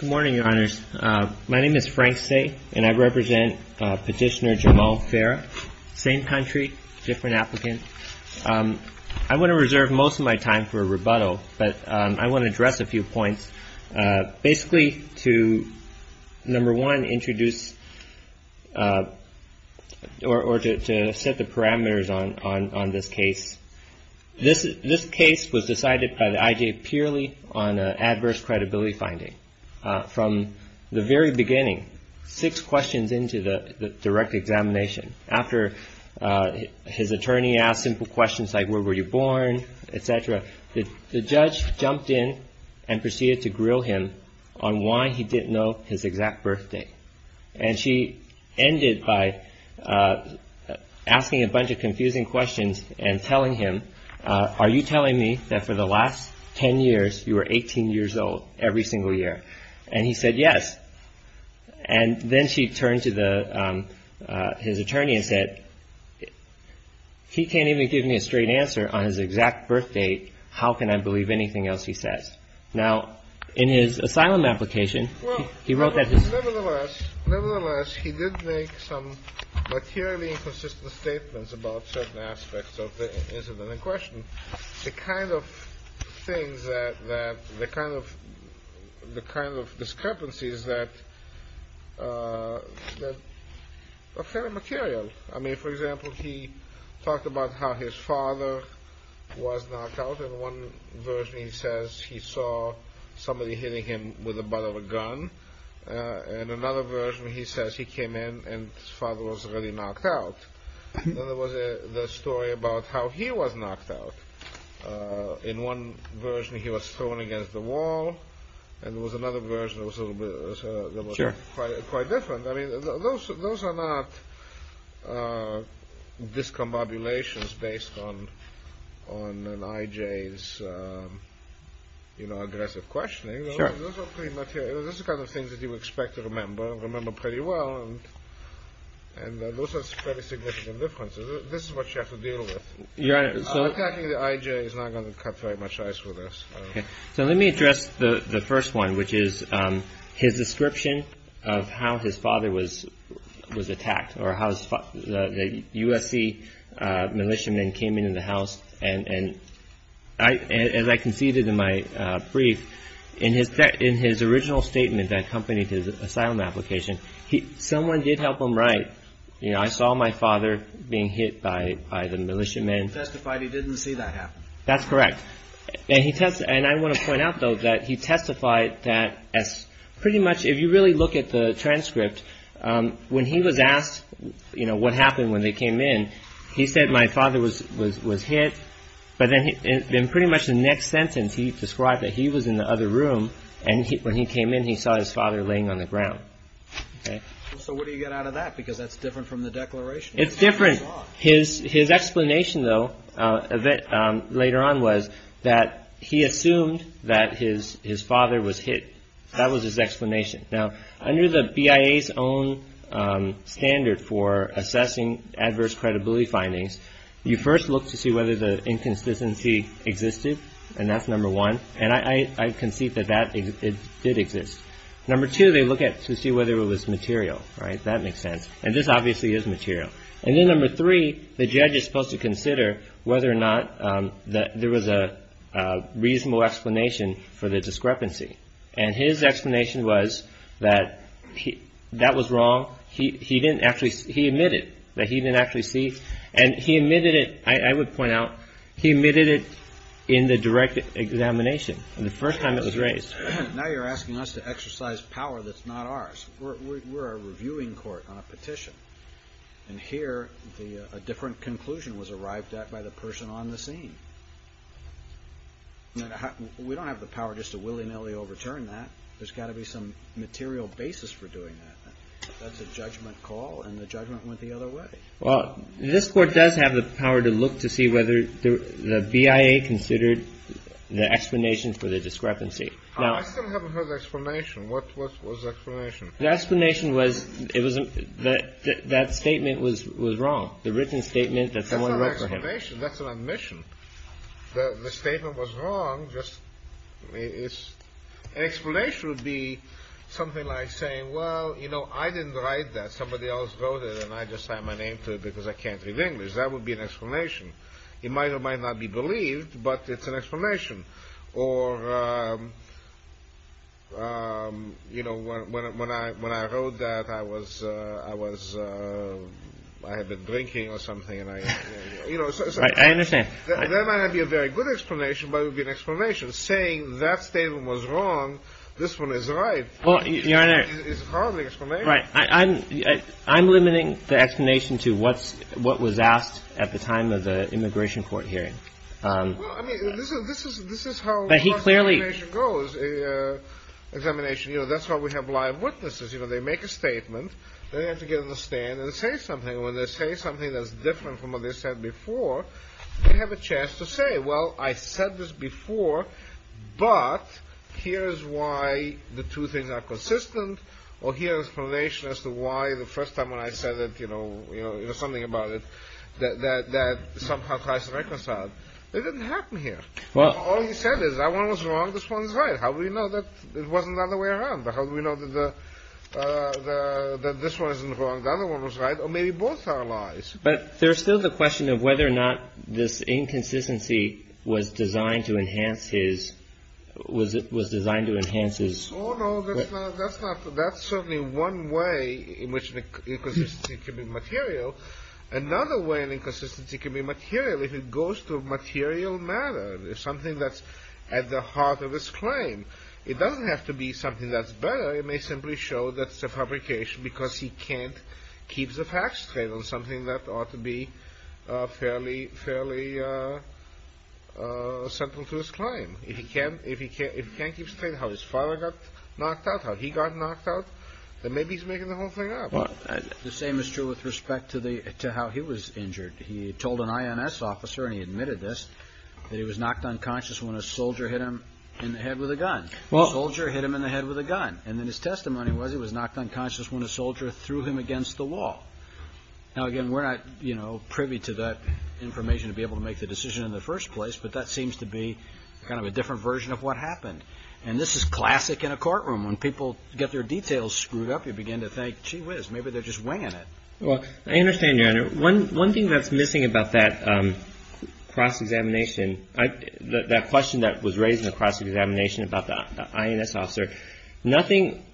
Good morning, Your Honors. My name is Frank Say, and I represent Petitioner Jamal Farah. Same country, different applicant. I want to reserve most of my time for a rebuttal, but I want to address a few points. Basically to, number one, introduce, or to set the parameters on this case. This case was decided by the IJ purely on adverse credibility findings. From the very beginning, six questions into the direct examination. After his attorney asked simple questions like where were you born, etc., the judge jumped in and proceeded to grill him on why he didn't know his exact birthday. And she ended by asking a bunch of confusing questions and telling him, are you telling me that for the last ten years you were 18 years old every single year? And he said yes. And then she turned to the, his attorney and said, he can't even give me a straight answer on his exact birthdate. How can I believe anything else he says? Now, in his asylum application, he wrote that. Nevertheless, nevertheless, he did make some materially inconsistent statements about certain aspects of the incident in question. The kind of things that, the kind of discrepancies that are kind of material. I mean, for example, he talked about how his father was knocked out. In one version he says he saw somebody hitting him with a bottle of gun. In another version he says he came in and his father was already knocked out. And then there was the story about how he was knocked out. In one version he was thrown against the wall. And there was another version that was quite different. I mean, those are not discombobulations based on an IJ's, you know, aggressive questioning. Those are kind of things that you expect to remember, remember pretty well. And those are pretty significant differences. This is what you have to deal with. Attacking the IJ is not going to cut very much ice with this. So let me address the first one, which is his description of how his father was attacked, or how the USC militiamen came into the house. And as I conceded in my brief, in his original statement that accompanied his asylum application, someone did help him write, you know, I saw my father being hit by the militiamen. And he testified he didn't see that happen. That's correct. And I want to point out, though, that he testified that pretty much, if you really look at the transcript, when he was asked, you know, what happened when they came in, he said my father was hit. But then pretty much the next sentence he described that he was in the other room and when he came in he saw his father laying on the ground. So what do you get out of that? Because that's different from the declaration. It's different. His explanation, though, later on was that he assumed that his father was hit. That was his explanation. Now, under the BIA's own standard for assessing adverse credibility findings, you first look to see whether the inconsistency existed. And that's number one. And I concede that that did exist. Number two, they look to see whether it was material. Right? That makes sense. And this obviously is material. And then number three, the judge is supposed to consider whether or not there was a reasonable explanation for the discrepancy. And his explanation was that that was wrong. He admitted that he didn't actually see. And he admitted it, I would point out, he admitted it in the direct examination, the first time it was raised. Now you're asking us to exercise power that's not ours. We're a reviewing court on a petition. And here a different conclusion was arrived at by the person on the scene. We don't have the power just to willy-nilly overturn that. There's got to be some material basis for doing that. That's a judgment call and the judgment went the other way. Well, this Court does have the power to look to see whether the BIA considered the explanation for the discrepancy. I still haven't heard the explanation. What was the explanation? The explanation was that statement was wrong. The written statement that someone wrote to him. That's an admission. The statement was wrong. An explanation would be something like saying, well, you know, I didn't write that. Somebody else wrote it and I just signed my name to it because I can't read English. That would be an explanation. It might or might not be believed, but it's an explanation. Or, you know, when I wrote that, I had been drinking or something. I understand. That might not be a very good explanation, but it would be an explanation. Saying that statement was wrong, this one is right, is hardly an explanation. Right. I'm limiting the explanation to what was asked at the time of the immigration court hearing. This is how examination goes. Examination, you know, that's why we have live witnesses. You know, they make a statement. They have to get on the stand and say something. When they say something that's different from what they said before, they have a chance to say, well, I said this before, but here's why the two things are consistent. Or here's an explanation as to why the first time when I said that, you know, you know, it was something about it that somehow tries to reconcile. It didn't happen here. Well, all you said is that one was wrong, this one's right. How do we know that it wasn't the other way around? How do we know that this one isn't wrong, the other one was right? Or maybe both are lies. But there's still the question of whether or not this inconsistency was designed to enhance his – was designed to enhance his – Oh, no, that's not – that's certainly one way in which inconsistency can be material. Another way an inconsistency can be material, if it goes to a material matter, something that's at the heart of his claim. It doesn't have to be something that's better. It may simply show that it's a fabrication because he can't keep the facts straight on something that ought to be fairly central to his claim. If he can't keep straight how his father got knocked out, how he got knocked out, then maybe he's making the whole thing up. The same is true with respect to how he was injured. He told an INS officer, and he admitted this, that he was knocked unconscious when a soldier hit him in the head with a gun. A soldier hit him in the head with a gun. And then his testimony was he was knocked unconscious when a soldier threw him against the wall. Now, again, we're not, you know, privy to that information to be able to make the decision in the first place, but that seems to be kind of a different version of what happened. And this is classic in a courtroom. When people get their details screwed up, you begin to think, gee whiz, maybe they're just winging it. Well, I understand, Your Honor. One thing that's missing about that cross-examination, that question that was raised in the cross-examination about the INS officer, nothing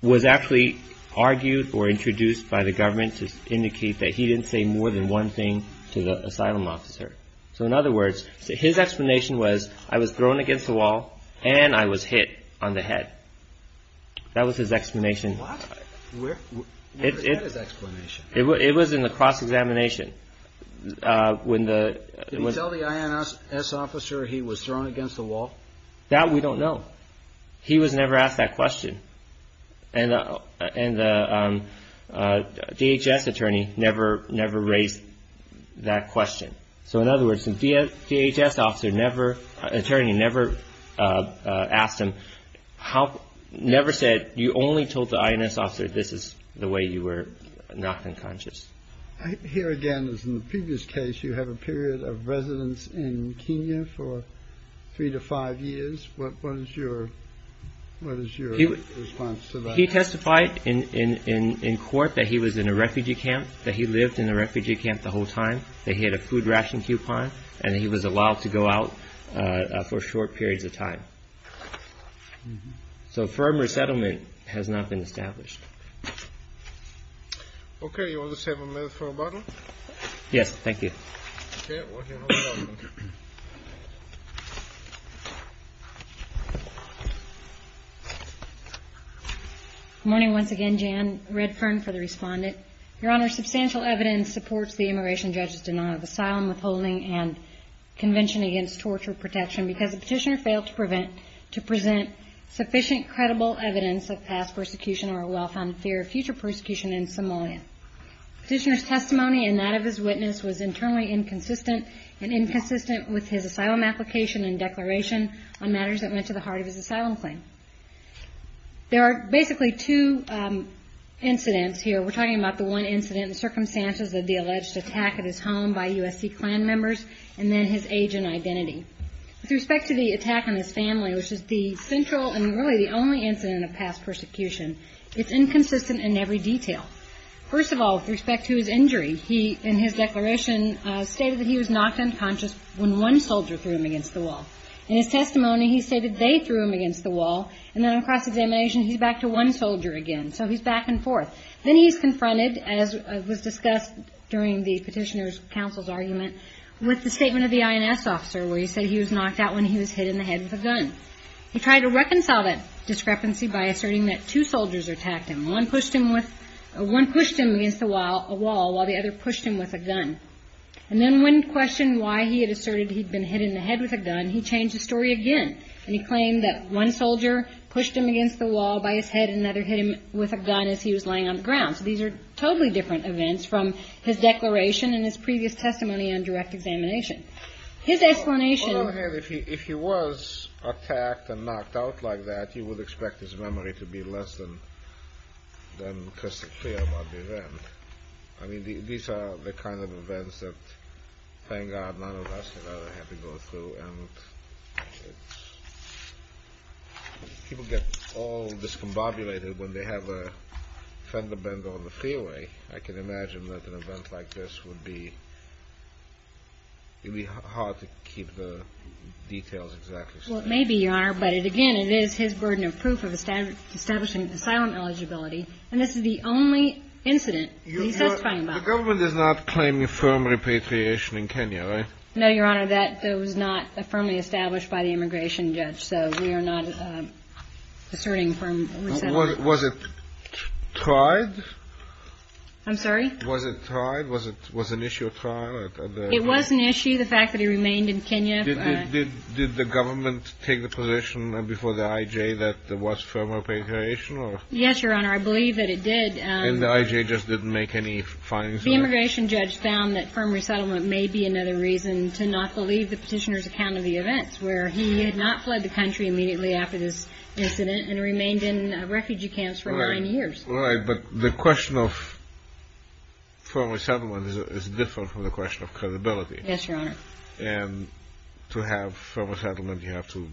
was actually argued or introduced by the government to indicate that he didn't say more than one thing to the asylum officer. So, in other words, his explanation was I was thrown against the wall and I was hit on the head. That was his explanation. What? Where is that explanation? It was in the cross-examination. Did he tell the INS officer he was thrown against the wall? That we don't know. He was never asked that question. And the DHS attorney never raised that question. So, in other words, the DHS attorney never asked him, never said, you only told the INS officer this is the way you were knocked unconscious. Here again, as in the previous case, you have a period of residence in Kenya for three to five years. What is your response to that? He testified in court that he was in a refugee camp, that he lived in a refugee camp the whole time, that he had a food ration coupon, and that he was allowed to go out for short periods of time. So a firm resettlement has not been established. Okay. You want to just have a minute for rebuttal? Yes. Thank you. Okay. Good morning once again. Jan Redfern for the respondent. Your Honor, substantial evidence supports the immigration judge's denial of asylum, withholding, and convention against torture protection because the petitioner failed to present sufficient credible evidence of past persecution or a well-founded fear of future persecution in Somalia. Petitioner's testimony and that of his witness was internally inconsistent and inconsistent with his asylum application and declaration on matters that went to the heart of his asylum claim. There are basically two incidents here. We're talking about the one incident and circumstances of the alleged attack at his home by USC clan members and then his age and identity. With respect to the attack on his family, which is the central and really the only incident of past persecution, it's inconsistent in every detail. First of all, with respect to his injury, he, in his declaration, stated that he was knocked unconscious when one soldier threw him against the wall. In his testimony, he stated they threw him against the wall, and then on cross-examination, he's back to one soldier again. So he's back and forth. Then he's confronted, as was discussed during the petitioner's counsel's argument, with the statement of the INS officer where he said he was knocked out when he was hit in the head with a gun. He tried to reconcile that discrepancy by asserting that two soldiers attacked him. One pushed him against a wall while the other pushed him with a gun. And then when questioned why he had asserted he'd been hit in the head with a gun, he changed the story again, and he claimed that one soldier pushed him against the wall by his head and another hit him with a gun as he was laying on the ground. So these are totally different events from his declaration and his previous testimony on direct examination. His explanation... Hold on a minute. If he was attacked and knocked out like that, you would expect his memory to be less than crystal clear about the event. I mean, these are the kind of events that, thank God, none of us had ever had to go through, and people get all discombobulated when they have a fender bend on the freeway. I can imagine that an event like this would be hard to keep the details exactly straight. Well, it may be, Your Honor, but, again, it is his burden of proof of establishing asylum eligibility, and this is the only incident that he says something about. The government is not claiming firm repatriation in Kenya, right? No, Your Honor. That was not firmly established by the immigration judge, so we are not asserting firm resettlement. Was it tried? I'm sorry? Was it tried? Was it an issue of trial? It was an issue, the fact that he remained in Kenya. Did the government take the position before the IJ that there was firm repatriation? Yes, Your Honor. I believe that it did. And the IJ just didn't make any findings about it? The immigration judge found that firm resettlement may be another reason to not believe the petitioner's account of the events, where he had not fled the country immediately after this incident and remained in refugee camps for nine years. Right, but the question of firm resettlement is different from the question of credibility. Yes, Your Honor. And to have firm resettlement, you have to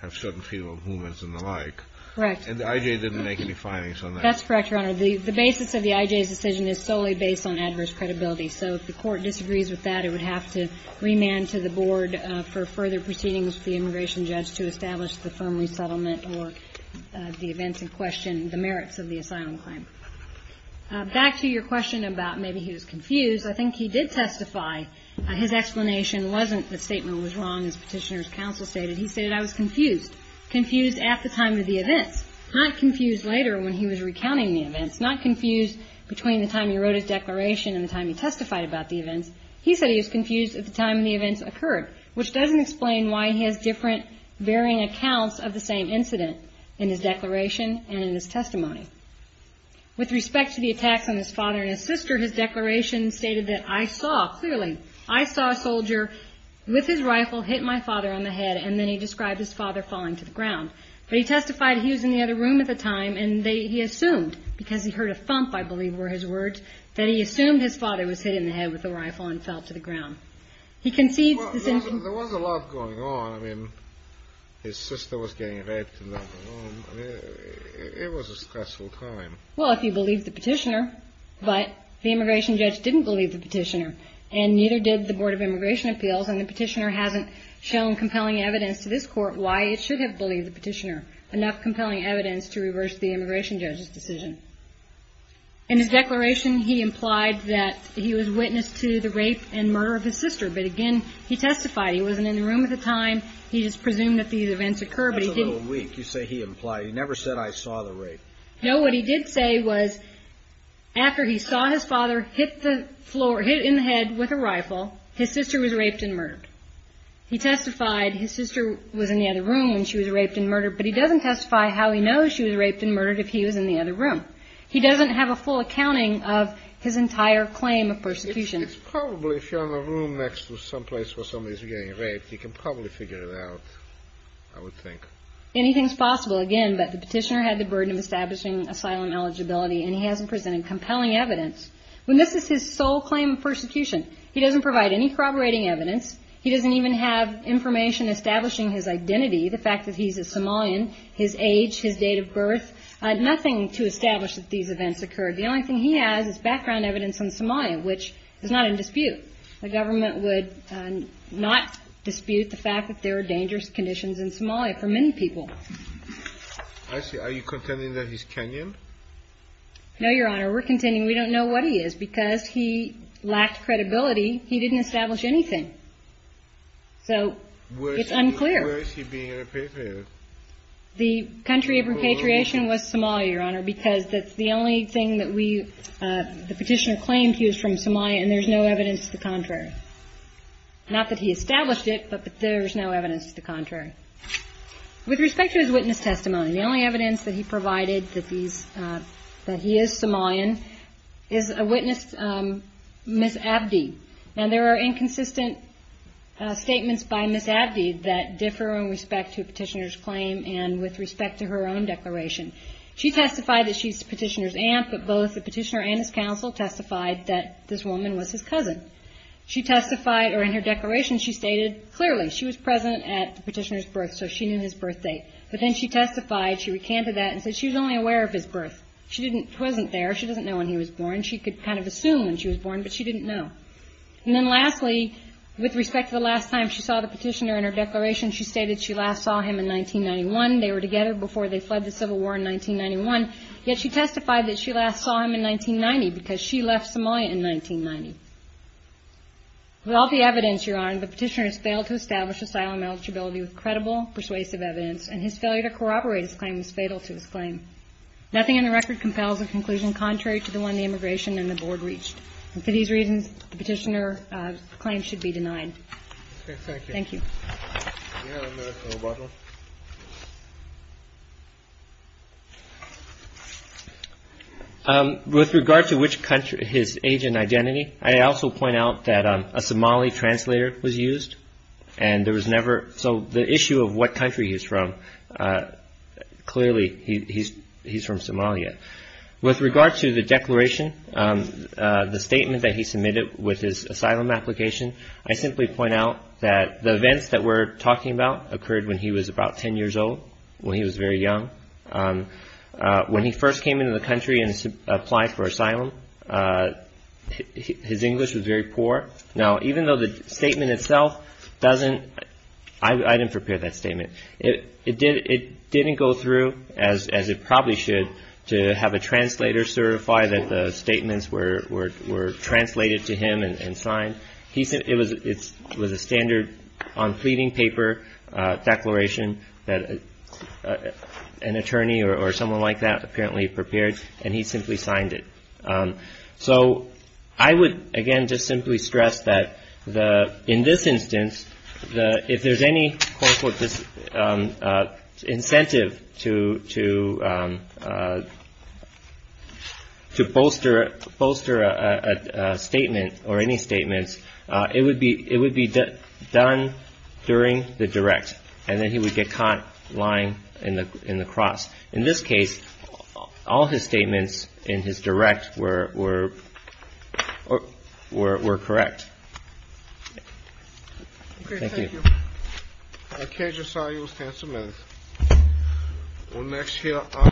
have certain freedom of movements and the like. Correct. And the IJ didn't make any findings on that? That's correct, Your Honor. The basis of the IJ's decision is solely based on adverse credibility. So if the court disagrees with that, it would have to remand to the board for further proceedings with the immigration judge to establish the firm resettlement or the events in question, the merits of the asylum claim. Back to your question about maybe he was confused, I think he did testify. His explanation wasn't the statement was wrong, as Petitioner's counsel stated. He stated, I was confused, confused at the time of the events, not confused later when he was recounting the events, not confused between the time he wrote his declaration and the time he testified about the events. He said he was confused at the time the events occurred, which doesn't explain why he has different varying accounts of the same incident in his declaration and in his testimony. With respect to the attacks on his father and his sister, his declaration stated that, I saw, clearly, I saw a soldier with his rifle hit my father on the head, and then he described his father falling to the ground. But he testified he was in the other room at the time, and he assumed, because he heard a thump, I believe, were his words, that he assumed his father was hit in the head with a rifle and fell to the ground. He concedes this incident. Well, there was a lot going on. I mean, his sister was getting raped in the other room. I mean, it was a stressful time. Well, if you believe the Petitioner, but the immigration judge didn't believe the Petitioner, and neither did the Board of Immigration Appeals, and the Petitioner hasn't shown compelling evidence to this Court why it should have believed the Petitioner, enough compelling evidence to reverse the immigration judge's decision. In his declaration, he implied that he was witness to the rape and murder of his sister. But, again, he testified he wasn't in the room at the time. He just presumed that these events occurred. That's a little weak. You say he implied. He never said, I saw the rape. No, what he did say was, after he saw his father hit the floor, hit in the head with a rifle, his sister was raped and murdered. He testified his sister was in the other room when she was raped and murdered, but he doesn't testify how he knows she was raped and murdered if he was in the other room. He doesn't have a full accounting of his entire claim of persecution. It's probably, if you're in a room next to someplace where somebody's getting raped, he can probably figure it out, I would think. Anything's possible, again, but the Petitioner had the burden of establishing asylum eligibility, and he hasn't presented compelling evidence. When this is his sole claim of persecution, he doesn't provide any corroborating evidence. He doesn't even have information establishing his identity, the fact that he's a Somalian, his age, his date of birth. Nothing to establish that these events occurred. The only thing he has is background evidence on Somalia, which is not in dispute. The government would not dispute the fact that there are dangerous conditions in Somalia for many people. I see. Are you contending that he's Kenyan? No, Your Honor. We're contending we don't know what he is because he lacked credibility. He didn't establish anything. So it's unclear. Where is he being repatriated? The country of repatriation was Somalia, Your Honor, because that's the only thing that we, the Petitioner claimed he was from Somalia, and there's no evidence to the contrary. Not that he established it, but there's no evidence to the contrary. With respect to his witness testimony, the only evidence that he provided that he is Somalian is a witness, Ms. Abdi. And there are inconsistent statements by Ms. Abdi that differ in respect to a Petitioner's claim and with respect to her own declaration. She testified that she's the Petitioner's aunt, but both the Petitioner and his counsel testified that this woman was his cousin. She testified, or in her declaration she stated clearly she was present at the Petitioner's birth, so she knew his birth date. But then she testified, she recanted that and said she was only aware of his birth. She wasn't there. She doesn't know when he was born. She could kind of assume when she was born, but she didn't know. And then lastly, with respect to the last time she saw the Petitioner in her declaration, she stated she last saw him in 1991. They were together before they fled the Civil War in 1991. Yet she testified that she last saw him in 1990 because she left Somalia in 1990. With all the evidence, Your Honor, the Petitioner has failed to establish asylum eligibility with credible, persuasive evidence, and his failure to corroborate his claim is fatal to his claim. Nothing in the record compels a conclusion contrary to the one the Immigration and the Board reached. And for these reasons, the Petitioner's claim should be denied. Thank you. With regard to which country, his age and identity, I also point out that a Somali translator was used. So the issue of what country he's from, clearly he's from Somalia. With regard to the declaration, the statement that he submitted with his asylum application, I simply point out that the events that we're talking about occurred when he was about 10 years old, when he was very young. When he first came into the country and applied for asylum, his English was very poor. Now, even though the statement itself doesn't – I didn't prepare that statement. It didn't go through as it probably should to have a translator certify that the statements were translated to him and signed. It was a standard on pleading paper declaration that an attorney or someone like that apparently prepared, and he simply signed it. So I would, again, just simply stress that in this instance, if there's any incentive to bolster a statement or any statements, it would be done during the direct, and then he would get caught lying in the cross. In this case, all his statements in his direct were correct. Thank you.